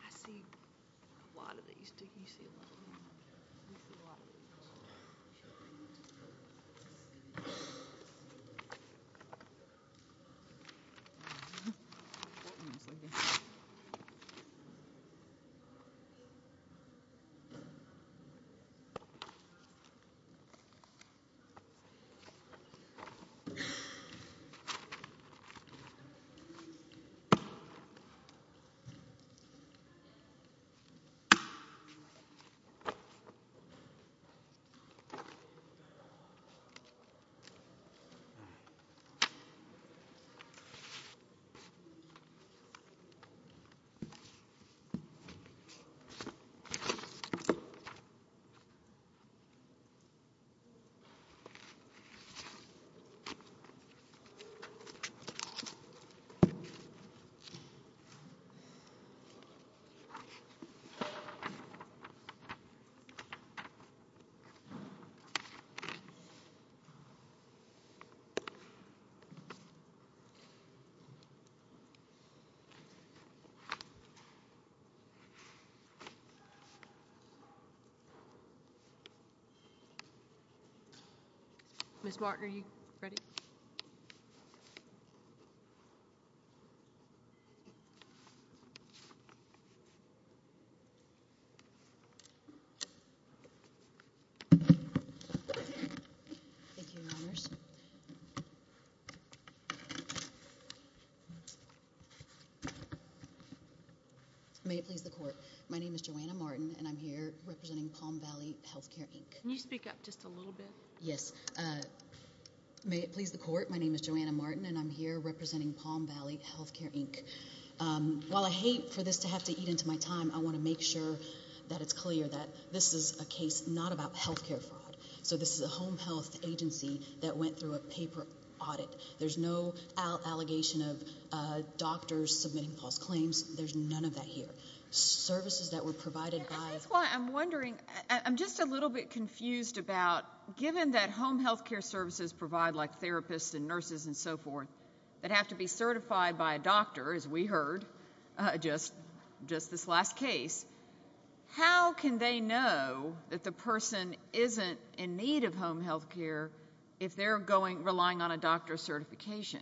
I see a lot of these, do you see a lot of these? I see a lot. All right. Ms. Thank you, Your Honors. May it please the court. My name is Joanna Martin, and I'm here representing Palm Valley Healthcare, Inc. Can you speak up just a little bit? Yes. May it please the court. My name is Joanna Martin, and I'm here representing Palm Valley Healthcare, Inc. While I hate for this to have to eat into my time, I want to make sure that it's clear that this is a case not about healthcare fraud. So this is a home health agency that went through a paper audit. There's no allegation of doctors submitting false claims. There's none of that here. Services that were provided by— And that's why I'm wondering, I'm just a little bit confused about, given that home healthcare services provide like therapists and nurses and so forth, that have to be certified by a doctor, as we heard just this last case, how can they know that the person isn't in need of home healthcare if they're relying on a doctor's certification?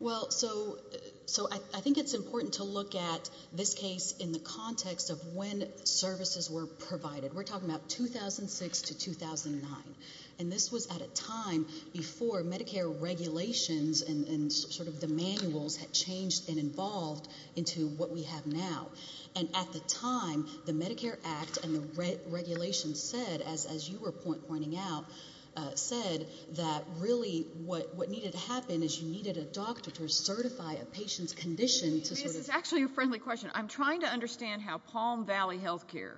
Well, so I think it's important to look at this case in the context of when services were provided. We're talking about 2006 to 2009. And this was at a time before Medicare regulations and sort of the manuals had changed and involved into what we have now. And at the time, the Medicare Act and the regulations said, as you were pointing out, said that really what needed to happen is you needed a doctor to certify a patient's condition to sort of— This is actually a friendly question. I'm trying to understand how Palm Valley Healthcare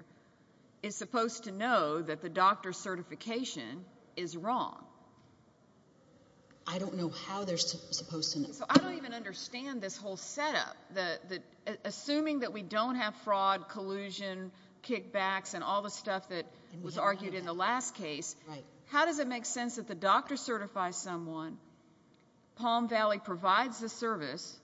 is supposed to know that the doctor's certification is wrong. I don't know how they're supposed to know. So I don't even understand this whole setup. Assuming that we don't have fraud, collusion, kickbacks, and all the stuff that was argued in the last case, how does it make sense that the doctor certifies someone, Palm Valley provides the service,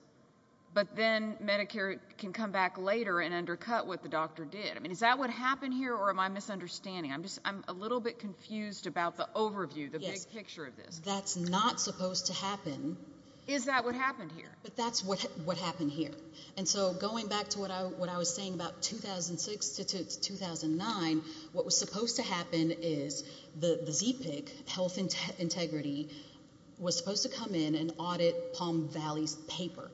but then Medicare can come back later and undercut what the doctor did? I mean, is that what happened here, or am I misunderstanding? I'm a little bit confused about the overview, the big picture of this. That's not supposed to happen. Is that what happened here? But that's what happened here. And so going back to what I was saying about 2006 to 2009, what was supposed to happen is the ZPIC, health integrity, was supposed to come in and audit Palm Valley's paper,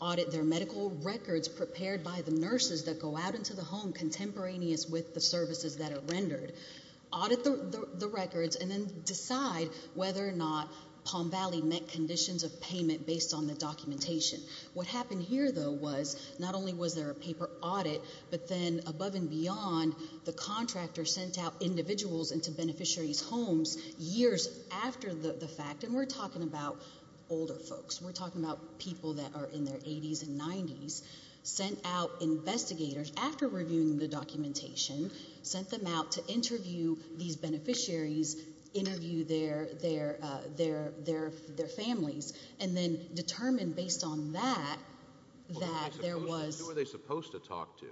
audit their medical records prepared by the nurses that go out into the home contemporaneous with the services that are rendered, audit the records, and then decide whether or not Palm Valley met conditions of payment based on the documentation. What happened here, though, was not only was there a paper audit, but then above and beyond, the contractor sent out individuals into beneficiaries' homes years after the fact. And we're talking about older folks. We're talking about people that are in their 80s and 90s, sent out investigators after reviewing the documentation, sent them out to interview these beneficiaries, interview their families, and then determine based on that that there was... Who are they supposed to talk to?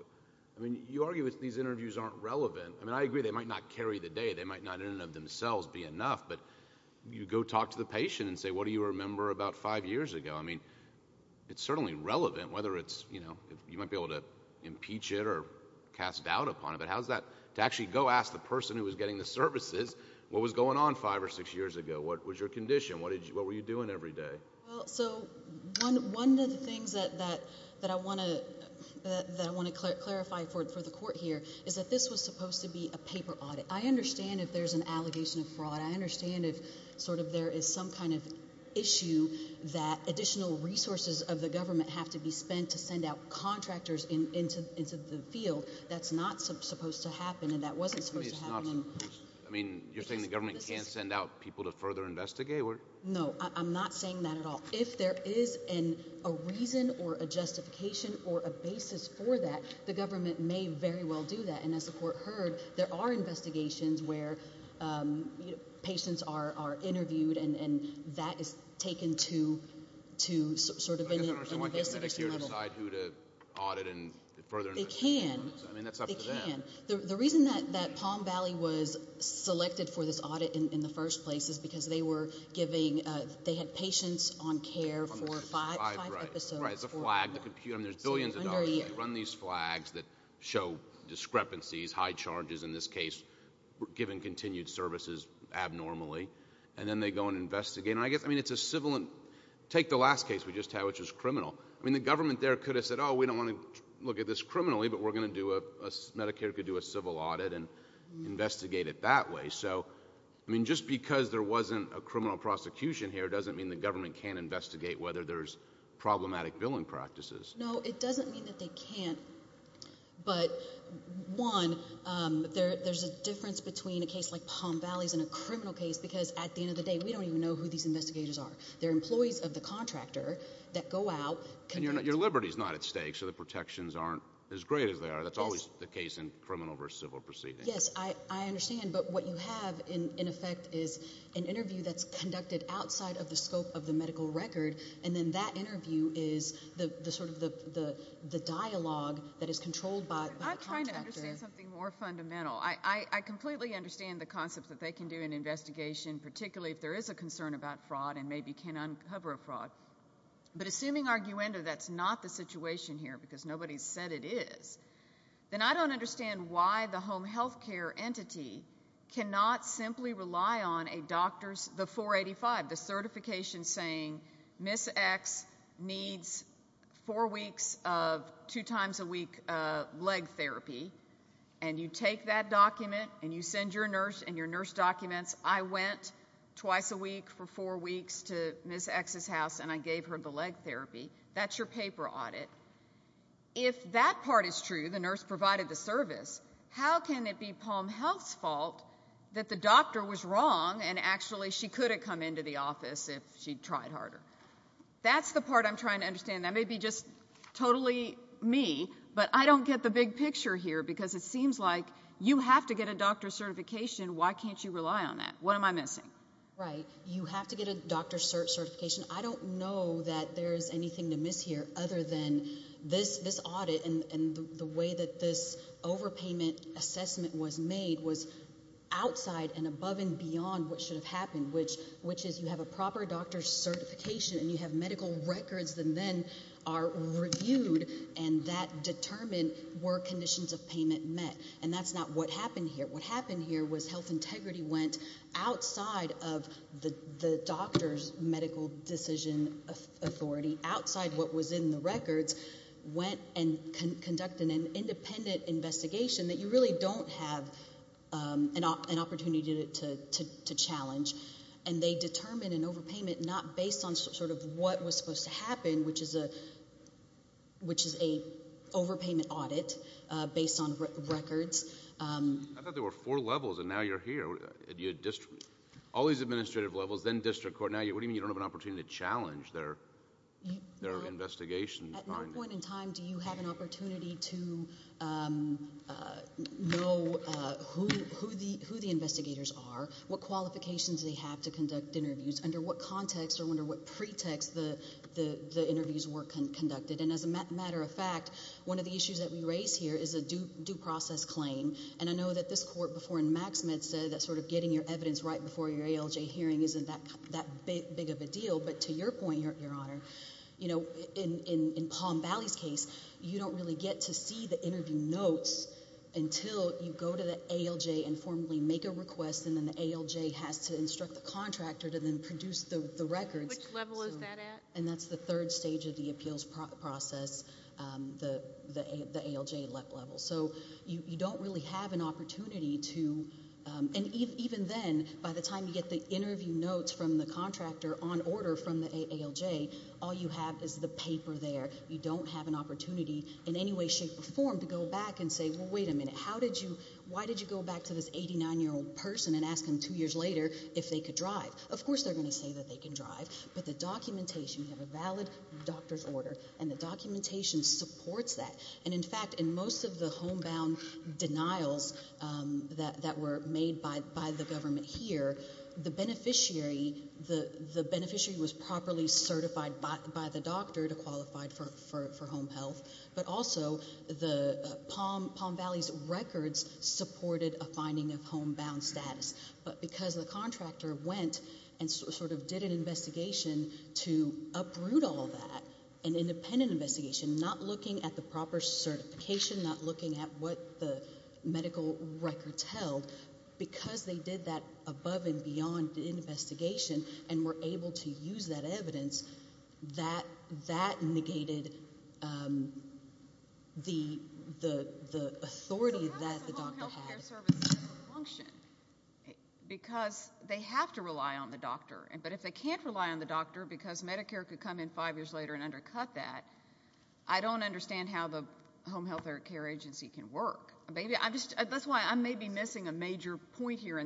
I mean, you argue that these interviews aren't relevant. I mean, I agree they might not carry the day. They might not in and of themselves be enough, but you go talk to the patient and say, what do you remember about five years ago? I mean, it's certainly relevant whether it's, you know, you might be able to impeach it or cast doubt upon it, but how is that to actually go ask the person who was getting the services what was going on five or six years ago? What was your condition? What were you doing every day? Well, so one of the things that I want to clarify for the court here is that this was supposed to be a paper audit. I understand if there's an allegation of fraud. I understand if sort of there is some kind of issue that additional resources of the government have to be spent to send out contractors into the field. That's not supposed to happen, and that wasn't supposed to happen. I mean, you're saying the government can't send out people to further investigate? No, I'm not saying that at all. If there is a reason or a justification or a basis for that, the government may very well do that, and as the court heard, there are investigations where patients are interviewed, and that is taken to sort of an investigation level. So someone can't sit here and decide who to audit and further investigate? They can. I mean, that's up to them. They can. The reason that Palm Valley was selected for this audit in the first place is because they were giving – they had patients on care for five episodes. Right, it's a flag. There's billions of dollars. They run these flags that show discrepancies, high charges in this case, giving continued services abnormally, and then they go and investigate. I mean, it's a civil – take the last case we just had, which was criminal. I mean, the government there could have said, oh, we don't want to look at this criminally, but we're going to do a – Medicare could do a civil audit and investigate it that way. So, I mean, just because there wasn't a criminal prosecution here doesn't mean the government can't investigate whether there's problematic billing practices. No, it doesn't mean that they can't. But, one, there's a difference between a case like Palm Valley's and a criminal case because at the end of the day, we don't even know who these investigators are. They're employees of the contractor that go out – And your liberty is not at stake, so the protections aren't as great as they are. That's always the case in criminal versus civil proceedings. Yes, I understand. But what you have, in effect, is an interview that's conducted outside of the scope of the medical record, and then that interview is sort of the dialogue that is controlled by the contractor. I'm trying to understand something more fundamental. I completely understand the concepts that they can do an investigation, particularly if there is a concern about fraud and maybe can uncover a fraud. But assuming, arguendo, that's not the situation here because nobody said it is, then I don't understand why the home health care entity cannot simply rely on a doctor's – the 485, the certification saying Ms. X needs four weeks of two-times-a-week leg therapy, and you take that document and you send your nurse and your nurse documents. I went twice a week for four weeks to Ms. X's house, and I gave her the leg therapy. That's your paper audit. If that part is true, the nurse provided the service, how can it be Palm Health's fault that the doctor was wrong and actually she could have come into the office if she'd tried harder? That's the part I'm trying to understand. That may be just totally me, but I don't get the big picture here because it seems like you have to get a doctor's certification. Why can't you rely on that? What am I missing? Right. You have to get a doctor's certification. I don't know that there's anything to miss here other than this audit and the way that this overpayment assessment was made was outside and above and beyond what should have happened, which is you have a proper doctor's certification and you have medical records that then are reviewed and that determine were conditions of payment met, and that's not what happened here. What happened here was health integrity went outside of the doctor's medical decision authority, outside what was in the records, went and conducted an independent investigation that you really don't have an opportunity to challenge, and they determined an overpayment not based on what was supposed to happen, which is an overpayment audit based on records. I thought there were four levels and now you're here. All these administrative levels, then district court, now what do you mean you don't have an opportunity to challenge their investigation? At what point in time do you have an opportunity to know who the investigators are, what qualifications they have to conduct interviews, under what context or under what pretext the interviews were conducted, and as a matter of fact, one of the issues that we raise here is a due process claim, and I know that this court before in Maxmed said that sort of getting your evidence right before your ALJ hearing isn't that big of a deal, but to your point, Your Honor, in Palm Valley's case you don't really get to see the interview notes until you go to the ALJ and formally make a request and then the ALJ has to instruct the contractor to then produce the records. Which level is that at? And that's the third stage of the appeals process, the ALJ level. So you don't really have an opportunity to, and even then, by the time you get the interview notes from the contractor on order from the ALJ, all you have is the paper there. You don't have an opportunity in any way, shape, or form to go back and say, well, wait a minute, why did you go back to this 89-year-old person and ask him two years later if they could drive? Of course they're going to say that they can drive, but the documentation, you have a valid doctor's order, and the documentation supports that. And, in fact, in most of the homebound denials that were made by the government here, the beneficiary was properly certified by the doctor to qualify for home health, but also Palm Valley's records supported a finding of homebound status. But because the contractor went and sort of did an investigation to uproot all that, an independent investigation, not looking at the proper certification, not looking at what the medical records held, because they did that above and beyond the investigation and were able to use that evidence, that negated the authority that the doctor had. Because they have to rely on the doctor. But if they can't rely on the doctor because Medicare could come in five years later and undercut that, I don't understand how the home health or care agency can work. That's why I may be missing a major point here.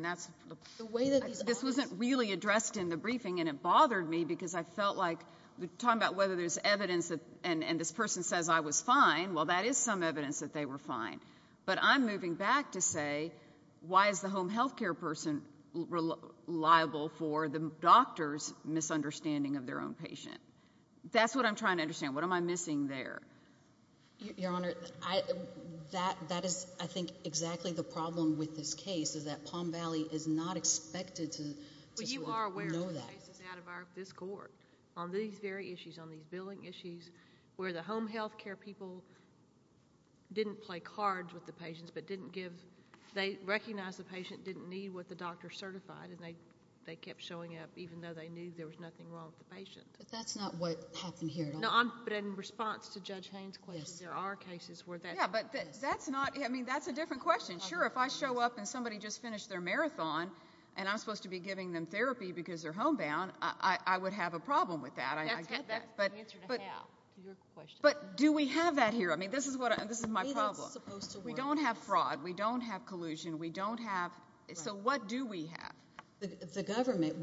This wasn't really addressed in the briefing, and it bothered me because I felt like talking about whether there's evidence and this person says I was fine, well, that is some evidence that they were fine. But I'm moving back to say why is the home health care person reliable for the doctor's misunderstanding of their own patient? That's what I'm trying to understand. What am I missing there? Your Honor, that is, I think, exactly the problem with this case is that Palm Valley is not expected to know that. But you are aware of the cases out of this court on these very issues, on these billing issues where the home health care people didn't play cards with the patients but didn't give, they recognized the patient didn't need what the doctor certified and they kept showing up even though they knew there was nothing wrong with the patient. But that's not what happened here at all. No, but in response to Judge Haynes' question, there are cases where that happens. Yeah, but that's not, I mean, that's a different question. Sure, if I show up and somebody just finished their marathon and I'm supposed to be giving them therapy because they're homebound, I would have a problem with that. I get that. But do we have that here? I mean, this is my problem. We don't have fraud. We don't have collusion. We don't have, so what do we have? The government,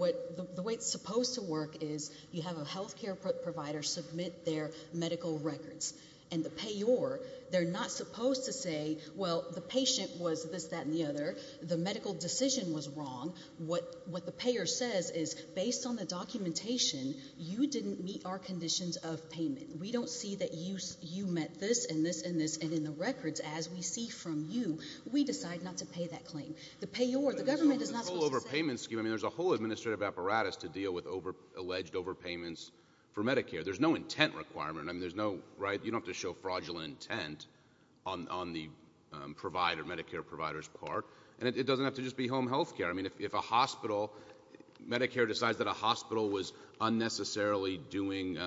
the way it's supposed to work is you have a health care provider submit their medical records, and the payor, they're not supposed to say, well, the patient was this, that, and the other. The medical decision was wrong. What the payor says is, based on the documentation, you didn't meet our conditions of payment. We don't see that you met this and this and this, and in the records as we see from you, we decide not to pay that claim. The payor, the government is not supposed to say. There's a whole overpayment scheme. I mean, there's a whole administrative apparatus to deal with alleged overpayments for Medicare. There's no intent requirement. I mean, there's no, right, you don't have to show fraudulent intent on the provider, Medicare provider's part, and it doesn't have to just be home health care. I mean, if a hospital, Medicare decides that a hospital was unnecessarily doing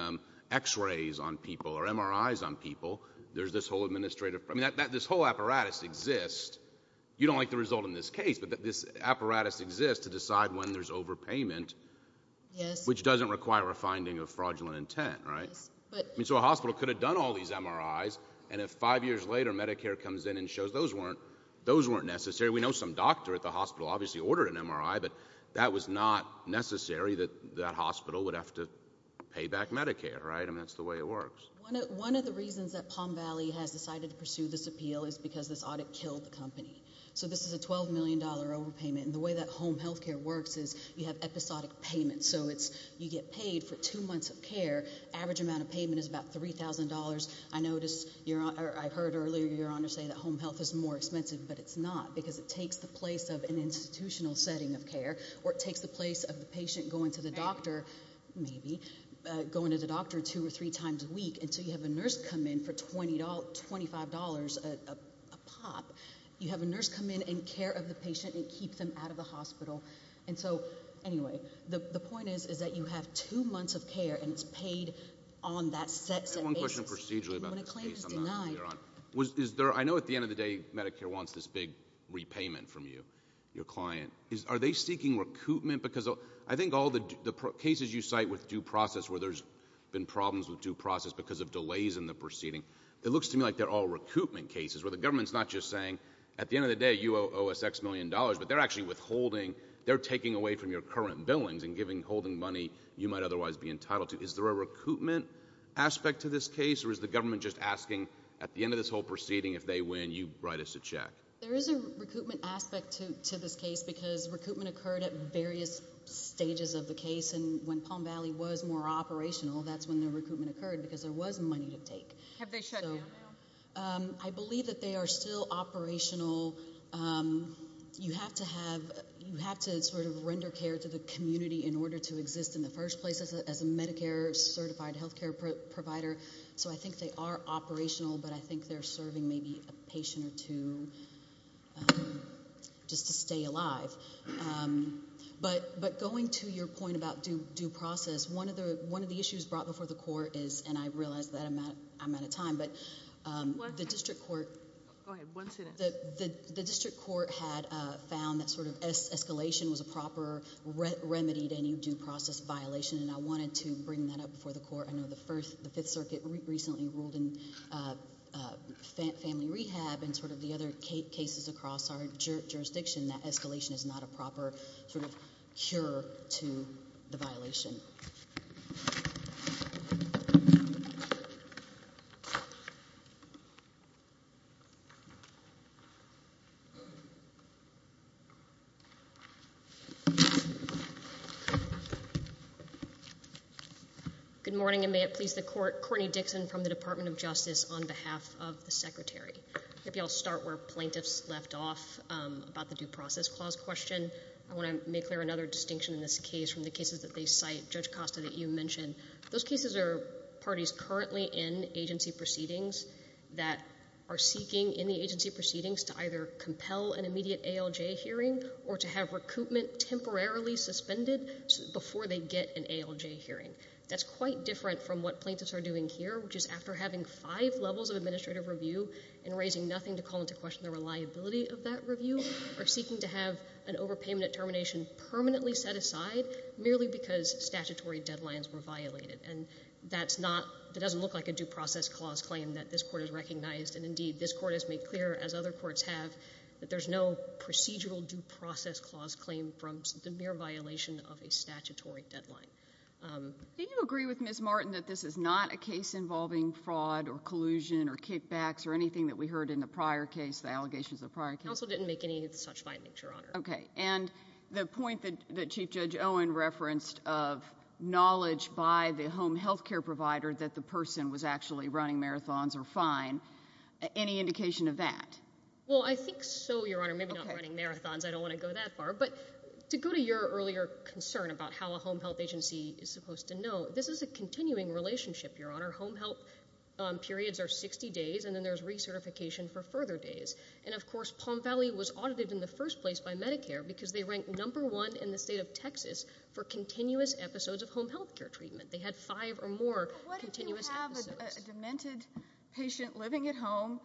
X-rays on people or MRIs on people, there's this whole administrative, I mean, this whole apparatus exists. You don't like the result in this case, but this apparatus exists to decide when there's overpayment, which doesn't require a finding of fraudulent intent, right? So a hospital could have done all these MRIs, and if five years later, Medicare comes in and shows those weren't necessary. We know some doctor at the hospital obviously ordered an MRI, but that was not necessary that that hospital would have to pay back Medicare, right? I mean, that's the way it works. One of the reasons that Palm Valley has decided to pursue this appeal is because this audit killed the company. So this is a $12 million overpayment, and the way that home health care works is you have episodic payments. So you get paid for two months of care. Average amount of payment is about $3,000. I heard earlier Your Honor say that home health is more expensive, but it's not, because it takes the place of an institutional setting of care, or it takes the place of the patient going to the doctor, maybe, going to the doctor two or three times a week until you have a nurse come in for $25 a pop. You have a nurse come in and care of the patient and keep them out of the hospital. And so, anyway, the point is that you have two months of care, and it's paid on that set basis. Let me ask one question procedurally about this case. I know at the end of the day Medicare wants this big repayment from you, your client. Are they seeking recoupment? Because I think all the cases you cite with due process where there's been problems with due process because of delays in the proceeding, it looks to me like they're all recoupment cases, where the government's not just saying at the end of the day you owe $6 million, but they're actually withholding, they're taking away from your current billings and holding money you might otherwise be entitled to. Is there a recoupment aspect to this case, or is the government just asking at the end of this whole proceeding, if they win, you write us a check? There is a recoupment aspect to this case because recoupment occurred at various stages of the case, and when Palm Valley was more operational, that's when the recoupment occurred because there was money to take. Have they shut down now? I believe that they are still operational. You have to sort of render care to the community in order to exist in the first place as a Medicare certified health care provider, so I think they are operational, but I think they're serving maybe a patient or two just to stay alive. But going to your point about due process, one of the issues brought before the court is, and I realize that I'm out of time, but the district court had found that sort of escalation was a proper remedy to any due process violation, and I wanted to bring that up before the court. I know the Fifth Circuit recently ruled in family rehab and sort of the other cases across our jurisdiction that escalation is not a proper sort of cure to the violation. Good morning, and may it please the court. Courtney Dixon from the Department of Justice on behalf of the Secretary. Maybe I'll start where plaintiffs left off about the due process clause question. I want to make clear another distinction in this case from the cases that they cite. Judge Costa, that you mentioned, those cases are parties currently in agency proceedings that are seeking in the agency proceedings to either compel an immediate ALJ hearing or to have recoupment temporarily suspended before they get an ALJ hearing. That's quite different from what plaintiffs are doing here, which is after having five levels of administrative review and raising nothing to call into question the reliability of that review, are seeking to have an overpayment at termination permanently set aside merely because statutory deadlines were violated. And that's not, that doesn't look like a due process clause claim that this Court has recognized, and indeed this Court has made clear, as other courts have, that there's no procedural due process clause claim from the mere violation of a statutory deadline. Do you agree with Ms. Martin that this is not a case involving fraud or collusion or kickbacks or anything that we heard in the prior case, the allegations of the prior case? Counsel didn't make any such findings, Your Honor. Okay. And the point that Chief Judge Owen referenced of knowledge by the home health care provider that the person was actually running marathons are fine. Any indication of that? Well, I think so, Your Honor. Maybe not running marathons. I don't want to go that far. But to go to your earlier concern about how a home health agency is supposed to know, this is a continuing relationship, Your Honor. Home health periods are 60 days, and then there's recertification for further days. And of course, Palm Valley was audited in the first place by Medicare because they ranked number one in the state of Texas for continuous episodes of home health care treatment. They had five or more continuous episodes. There's a demented patient living at home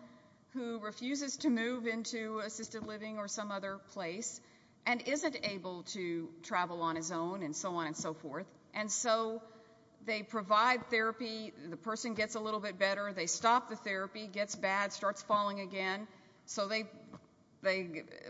who refuses to move into assisted living or some other place and isn't able to travel on his own and so on and so forth. And so they provide therapy. The person gets a little bit better. They stop the therapy, gets bad, starts falling again. So they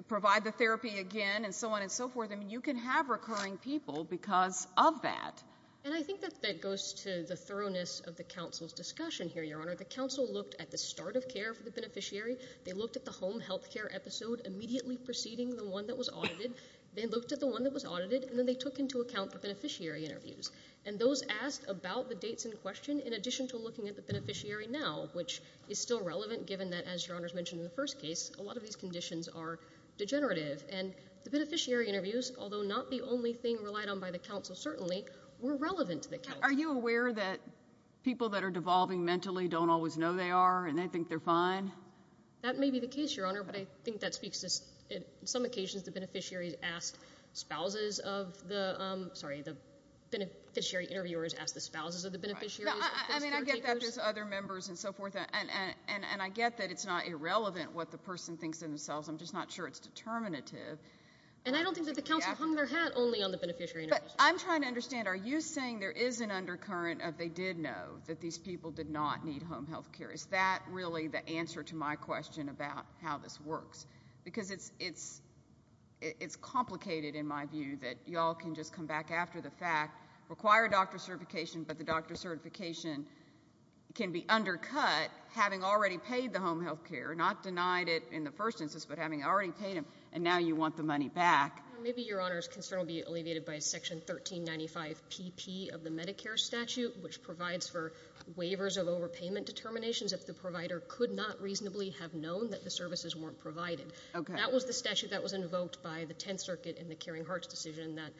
provide the therapy again and so on and so forth. I mean, you can have recurring people because of that. And I think that that goes to the thoroughness of the counsel's discussion here, Your Honor. The counsel looked at the start of care for the beneficiary. They looked at the home health care episode immediately preceding the one that was audited. They looked at the one that was audited, and then they took into account the beneficiary interviews. And those asked about the dates in question in addition to looking at the beneficiary now, which is still relevant given that, as Your Honor has mentioned in the first case, a lot of these conditions are degenerative. And the beneficiary interviews, although not the only thing relied on by the counsel certainly, were relevant to the counsel. Are you aware that people that are devolving mentally don't always know they are and they think they're fine? That may be the case, Your Honor, but I think that speaks to some occasions the beneficiaries asked spouses of the – sorry, the beneficiary interviewers asked the spouses of the beneficiaries. I mean, I get that with other members and so forth, and I get that it's not irrelevant what the person thinks of themselves. I'm just not sure it's determinative. And I don't think that the counsel hung their hat only on the beneficiary interviews. But I'm trying to understand. Are you saying there is an undercurrent of they did know that these people did not need home health care? Is that really the answer to my question about how this works? Because it's complicated in my view that you all can just come back after the fact, require doctor certification, but the doctor certification can be undercut having already paid the home health care, not denied it in the first instance, but having already paid them, and now you want the money back. Maybe, Your Honor, his concern will be alleviated by Section 1395PP of the Medicare statute, which provides for waivers of overpayment determinations if the provider could not reasonably have known that the services weren't provided. Okay. That was the statute that was invoked by the Tenth Circuit in the Caring Hearts decision that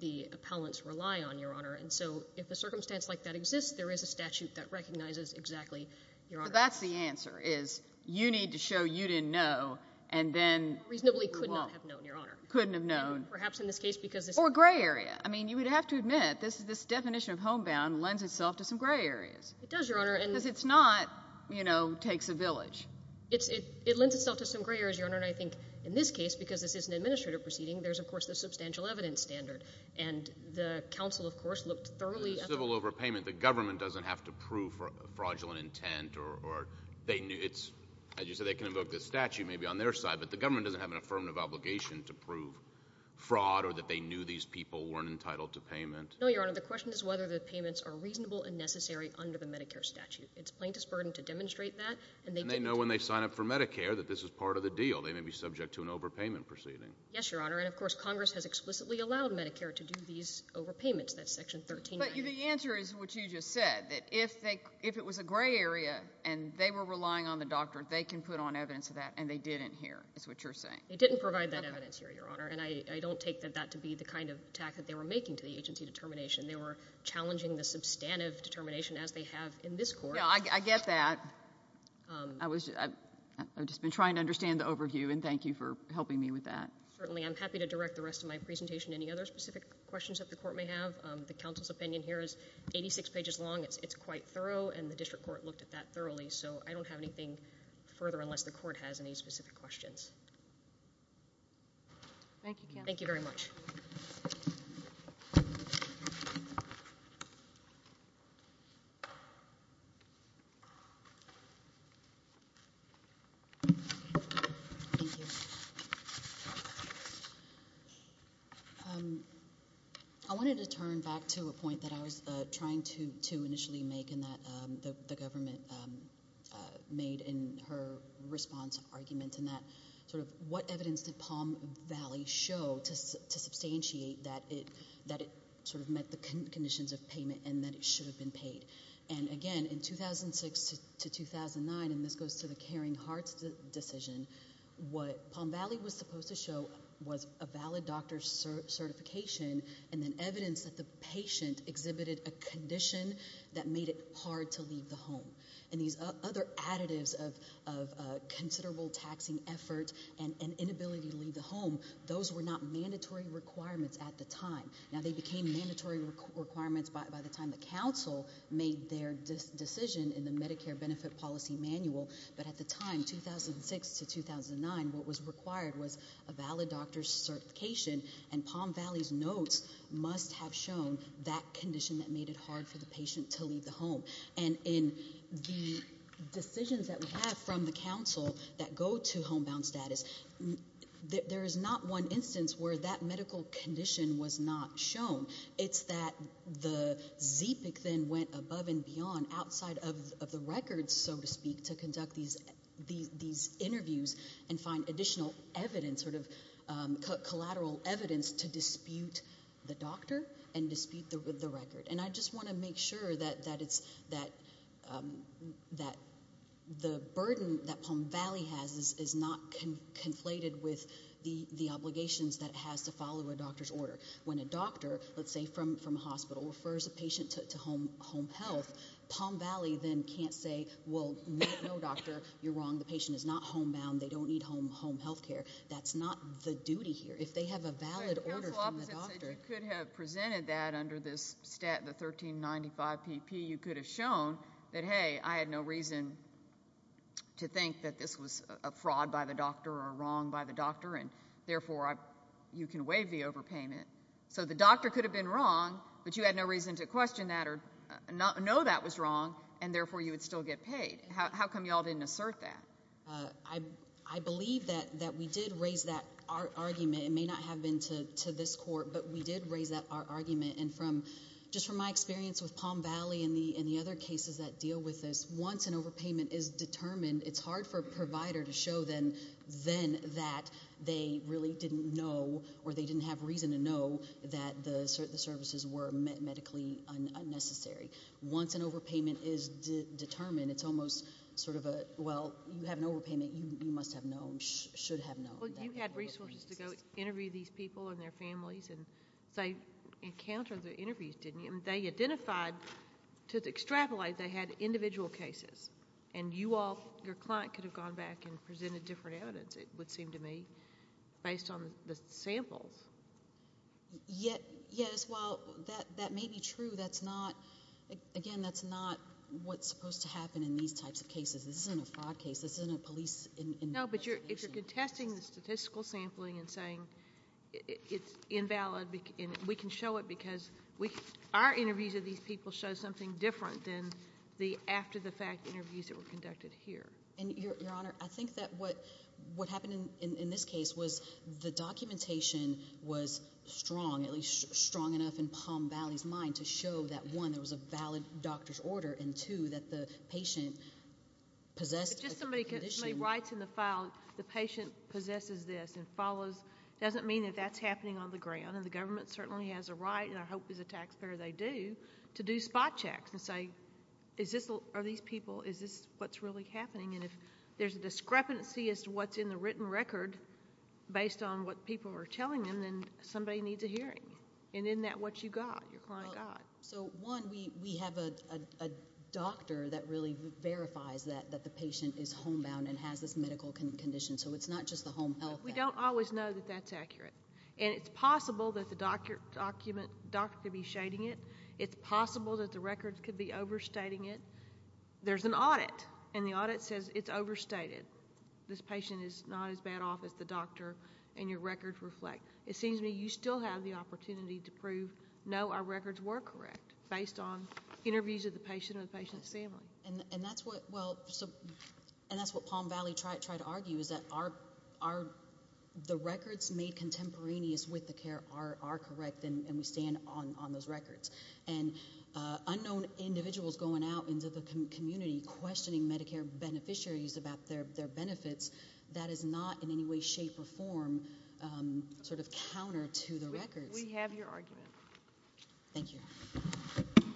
the appellants rely on, Your Honor. And so if a circumstance like that exists, there is a statute that recognizes exactly, Your Honor. So that's the answer is you need to show you didn't know and then you won't. Reasonably could not have known, Your Honor. Couldn't have known. And perhaps in this case because this— Or a gray area. I mean, you would have to admit this definition of homebound lends itself to some gray areas. It does, Your Honor, and— Because it's not, you know, takes a village. It lends itself to some gray areas, Your Honor, and I think in this case, because this is an administrative proceeding, there's, of course, the substantial evidence standard, and the counsel, of course, looked thoroughly— The civil overpayment, the government doesn't have to prove fraudulent intent or they— As you said, they can invoke the statute maybe on their side, but the government doesn't have an affirmative obligation to prove fraud or that they knew these people weren't entitled to payment. No, Your Honor. The question is whether the payments are reasonable and necessary under the Medicare statute. It's plaintiff's burden to demonstrate that, and they— And they know when they sign up for Medicare that this is part of the deal. They may be subject to an overpayment proceeding. Yes, Your Honor. And, of course, Congress has explicitly allowed Medicare to do these overpayments. That's Section 139. But the answer is what you just said, that if they—if it was a gray area and they were relying on the doctor, they can put on evidence of that, and they didn't here, is what you're saying. They didn't provide that evidence here, Your Honor, and I don't take that to be the kind of attack that they were making to the agency determination. They were challenging the substantive determination as they have in this Court. Yeah, I get that. I was—I've just been trying to understand the overview, and thank you for helping me with that. Certainly. I'm happy to direct the rest of my presentation. Any other specific questions that the Court may have? The counsel's opinion here is 86 pages long. It's quite thorough, and the district court looked at that thoroughly, so I don't have anything further unless the Court has any specific questions. Thank you, counsel. Thank you very much. Thank you. I wanted to turn back to a point that I was trying to initially make and that the government made in her response argument, and that sort of what evidence did Palm Valley show to substantiate that it sort of met the conditions of payment and that it should have been paid? And again, in 2006 to 2009, and this goes to the Caring Hearts decision, what Palm Valley was supposed to show was a valid doctor's certification and then evidence that the patient exhibited a condition that made it hard to leave the home. And these other additives of considerable taxing effort and inability to leave the home, those were not mandatory requirements at the time. Now, they became mandatory requirements by the time the counsel made their decision in the Medicare benefit policy manual, but at the time, 2006 to 2009, what was required was a valid doctor's certification, and Palm Valley's notes must have shown that condition that made it hard for the patient to leave the home. And in the decisions that we have from the counsel that go to homebound status, there is not one instance where that medical condition was not shown. It's that the ZPIC then went above and beyond outside of the records, so to speak, to conduct these interviews and find additional evidence, sort of collateral evidence, to dispute the doctor and dispute the record. And I just want to make sure that the burden that Palm Valley has is not conflated with the obligations that it has to follow a doctor's order. When a doctor, let's say from a hospital, refers a patient to home health, Palm Valley then can't say, well, no, doctor, you're wrong, the patient is not homebound, they don't need home health care. That's not the duty here. If they have a valid order from the doctor. Counsel opposite said you could have presented that under this stat, the 1395PP. You could have shown that, hey, I had no reason to think that this was a fraud by the doctor or wrong by the doctor, and therefore you can waive the overpayment. So the doctor could have been wrong, but you had no reason to question that or know that was wrong, and therefore you would still get paid. How come you all didn't assert that? I believe that we did raise that argument. It may not have been to this court, but we did raise that argument. And just from my experience with Palm Valley and the other cases that deal with this, once an overpayment is determined, it's hard for a provider to show then that they really didn't know or they didn't have reason to know that the services were medically unnecessary. Once an overpayment is determined, it's almost sort of a, well, you have an overpayment, you must have known, should have known. You had resources to go interview these people and their families, and they encountered the interviews, didn't you? They identified, to extrapolate, they had individual cases, and you all, your client could have gone back and presented different evidence, it would seem to me, based on the samples. Yes, while that may be true, that's not, again, that's not what's supposed to happen in these types of cases. This isn't a fraud case. This isn't a police investigation. No, but you're contesting the statistical sampling and saying it's invalid, and we can show it because our interviews of these people show something different than the after-the-fact interviews that were conducted here. And, Your Honor, I think that what happened in this case was the documentation was strong, at least strong enough in Palm Valley's mind to show that, one, there was a valid doctor's order, and, two, that the patient possessed a condition. If somebody writes in the file, the patient possesses this and follows, it doesn't mean that that's happening on the ground, and the government certainly has a right, and I hope as a taxpayer they do, to do spot checks and say, are these people, is this what's really happening? And if there's a discrepancy as to what's in the written record based on what people are telling them, then somebody needs a hearing, and isn't that what you got, your client got? So, one, we have a doctor that really verifies that the patient is homebound and has this medical condition, so it's not just the home health. We don't always know that that's accurate, and it's possible that the doctor could be shading it. It's possible that the records could be overstating it. There's an audit, and the audit says it's overstated. This patient is not as bad off as the doctor, and your records reflect. It seems to me you still have the opportunity to prove, no, our records were correct, based on interviews of the patient and the patient's family. And that's what, well, and that's what Palm Valley tried to argue, is that the records made contemporaneous with the care are correct, and we stand on those records. And unknown individuals going out into the community, questioning Medicare beneficiaries about their benefits, that is not in any way, shape, or form sort of counter to the records. We have your argument. Thank you.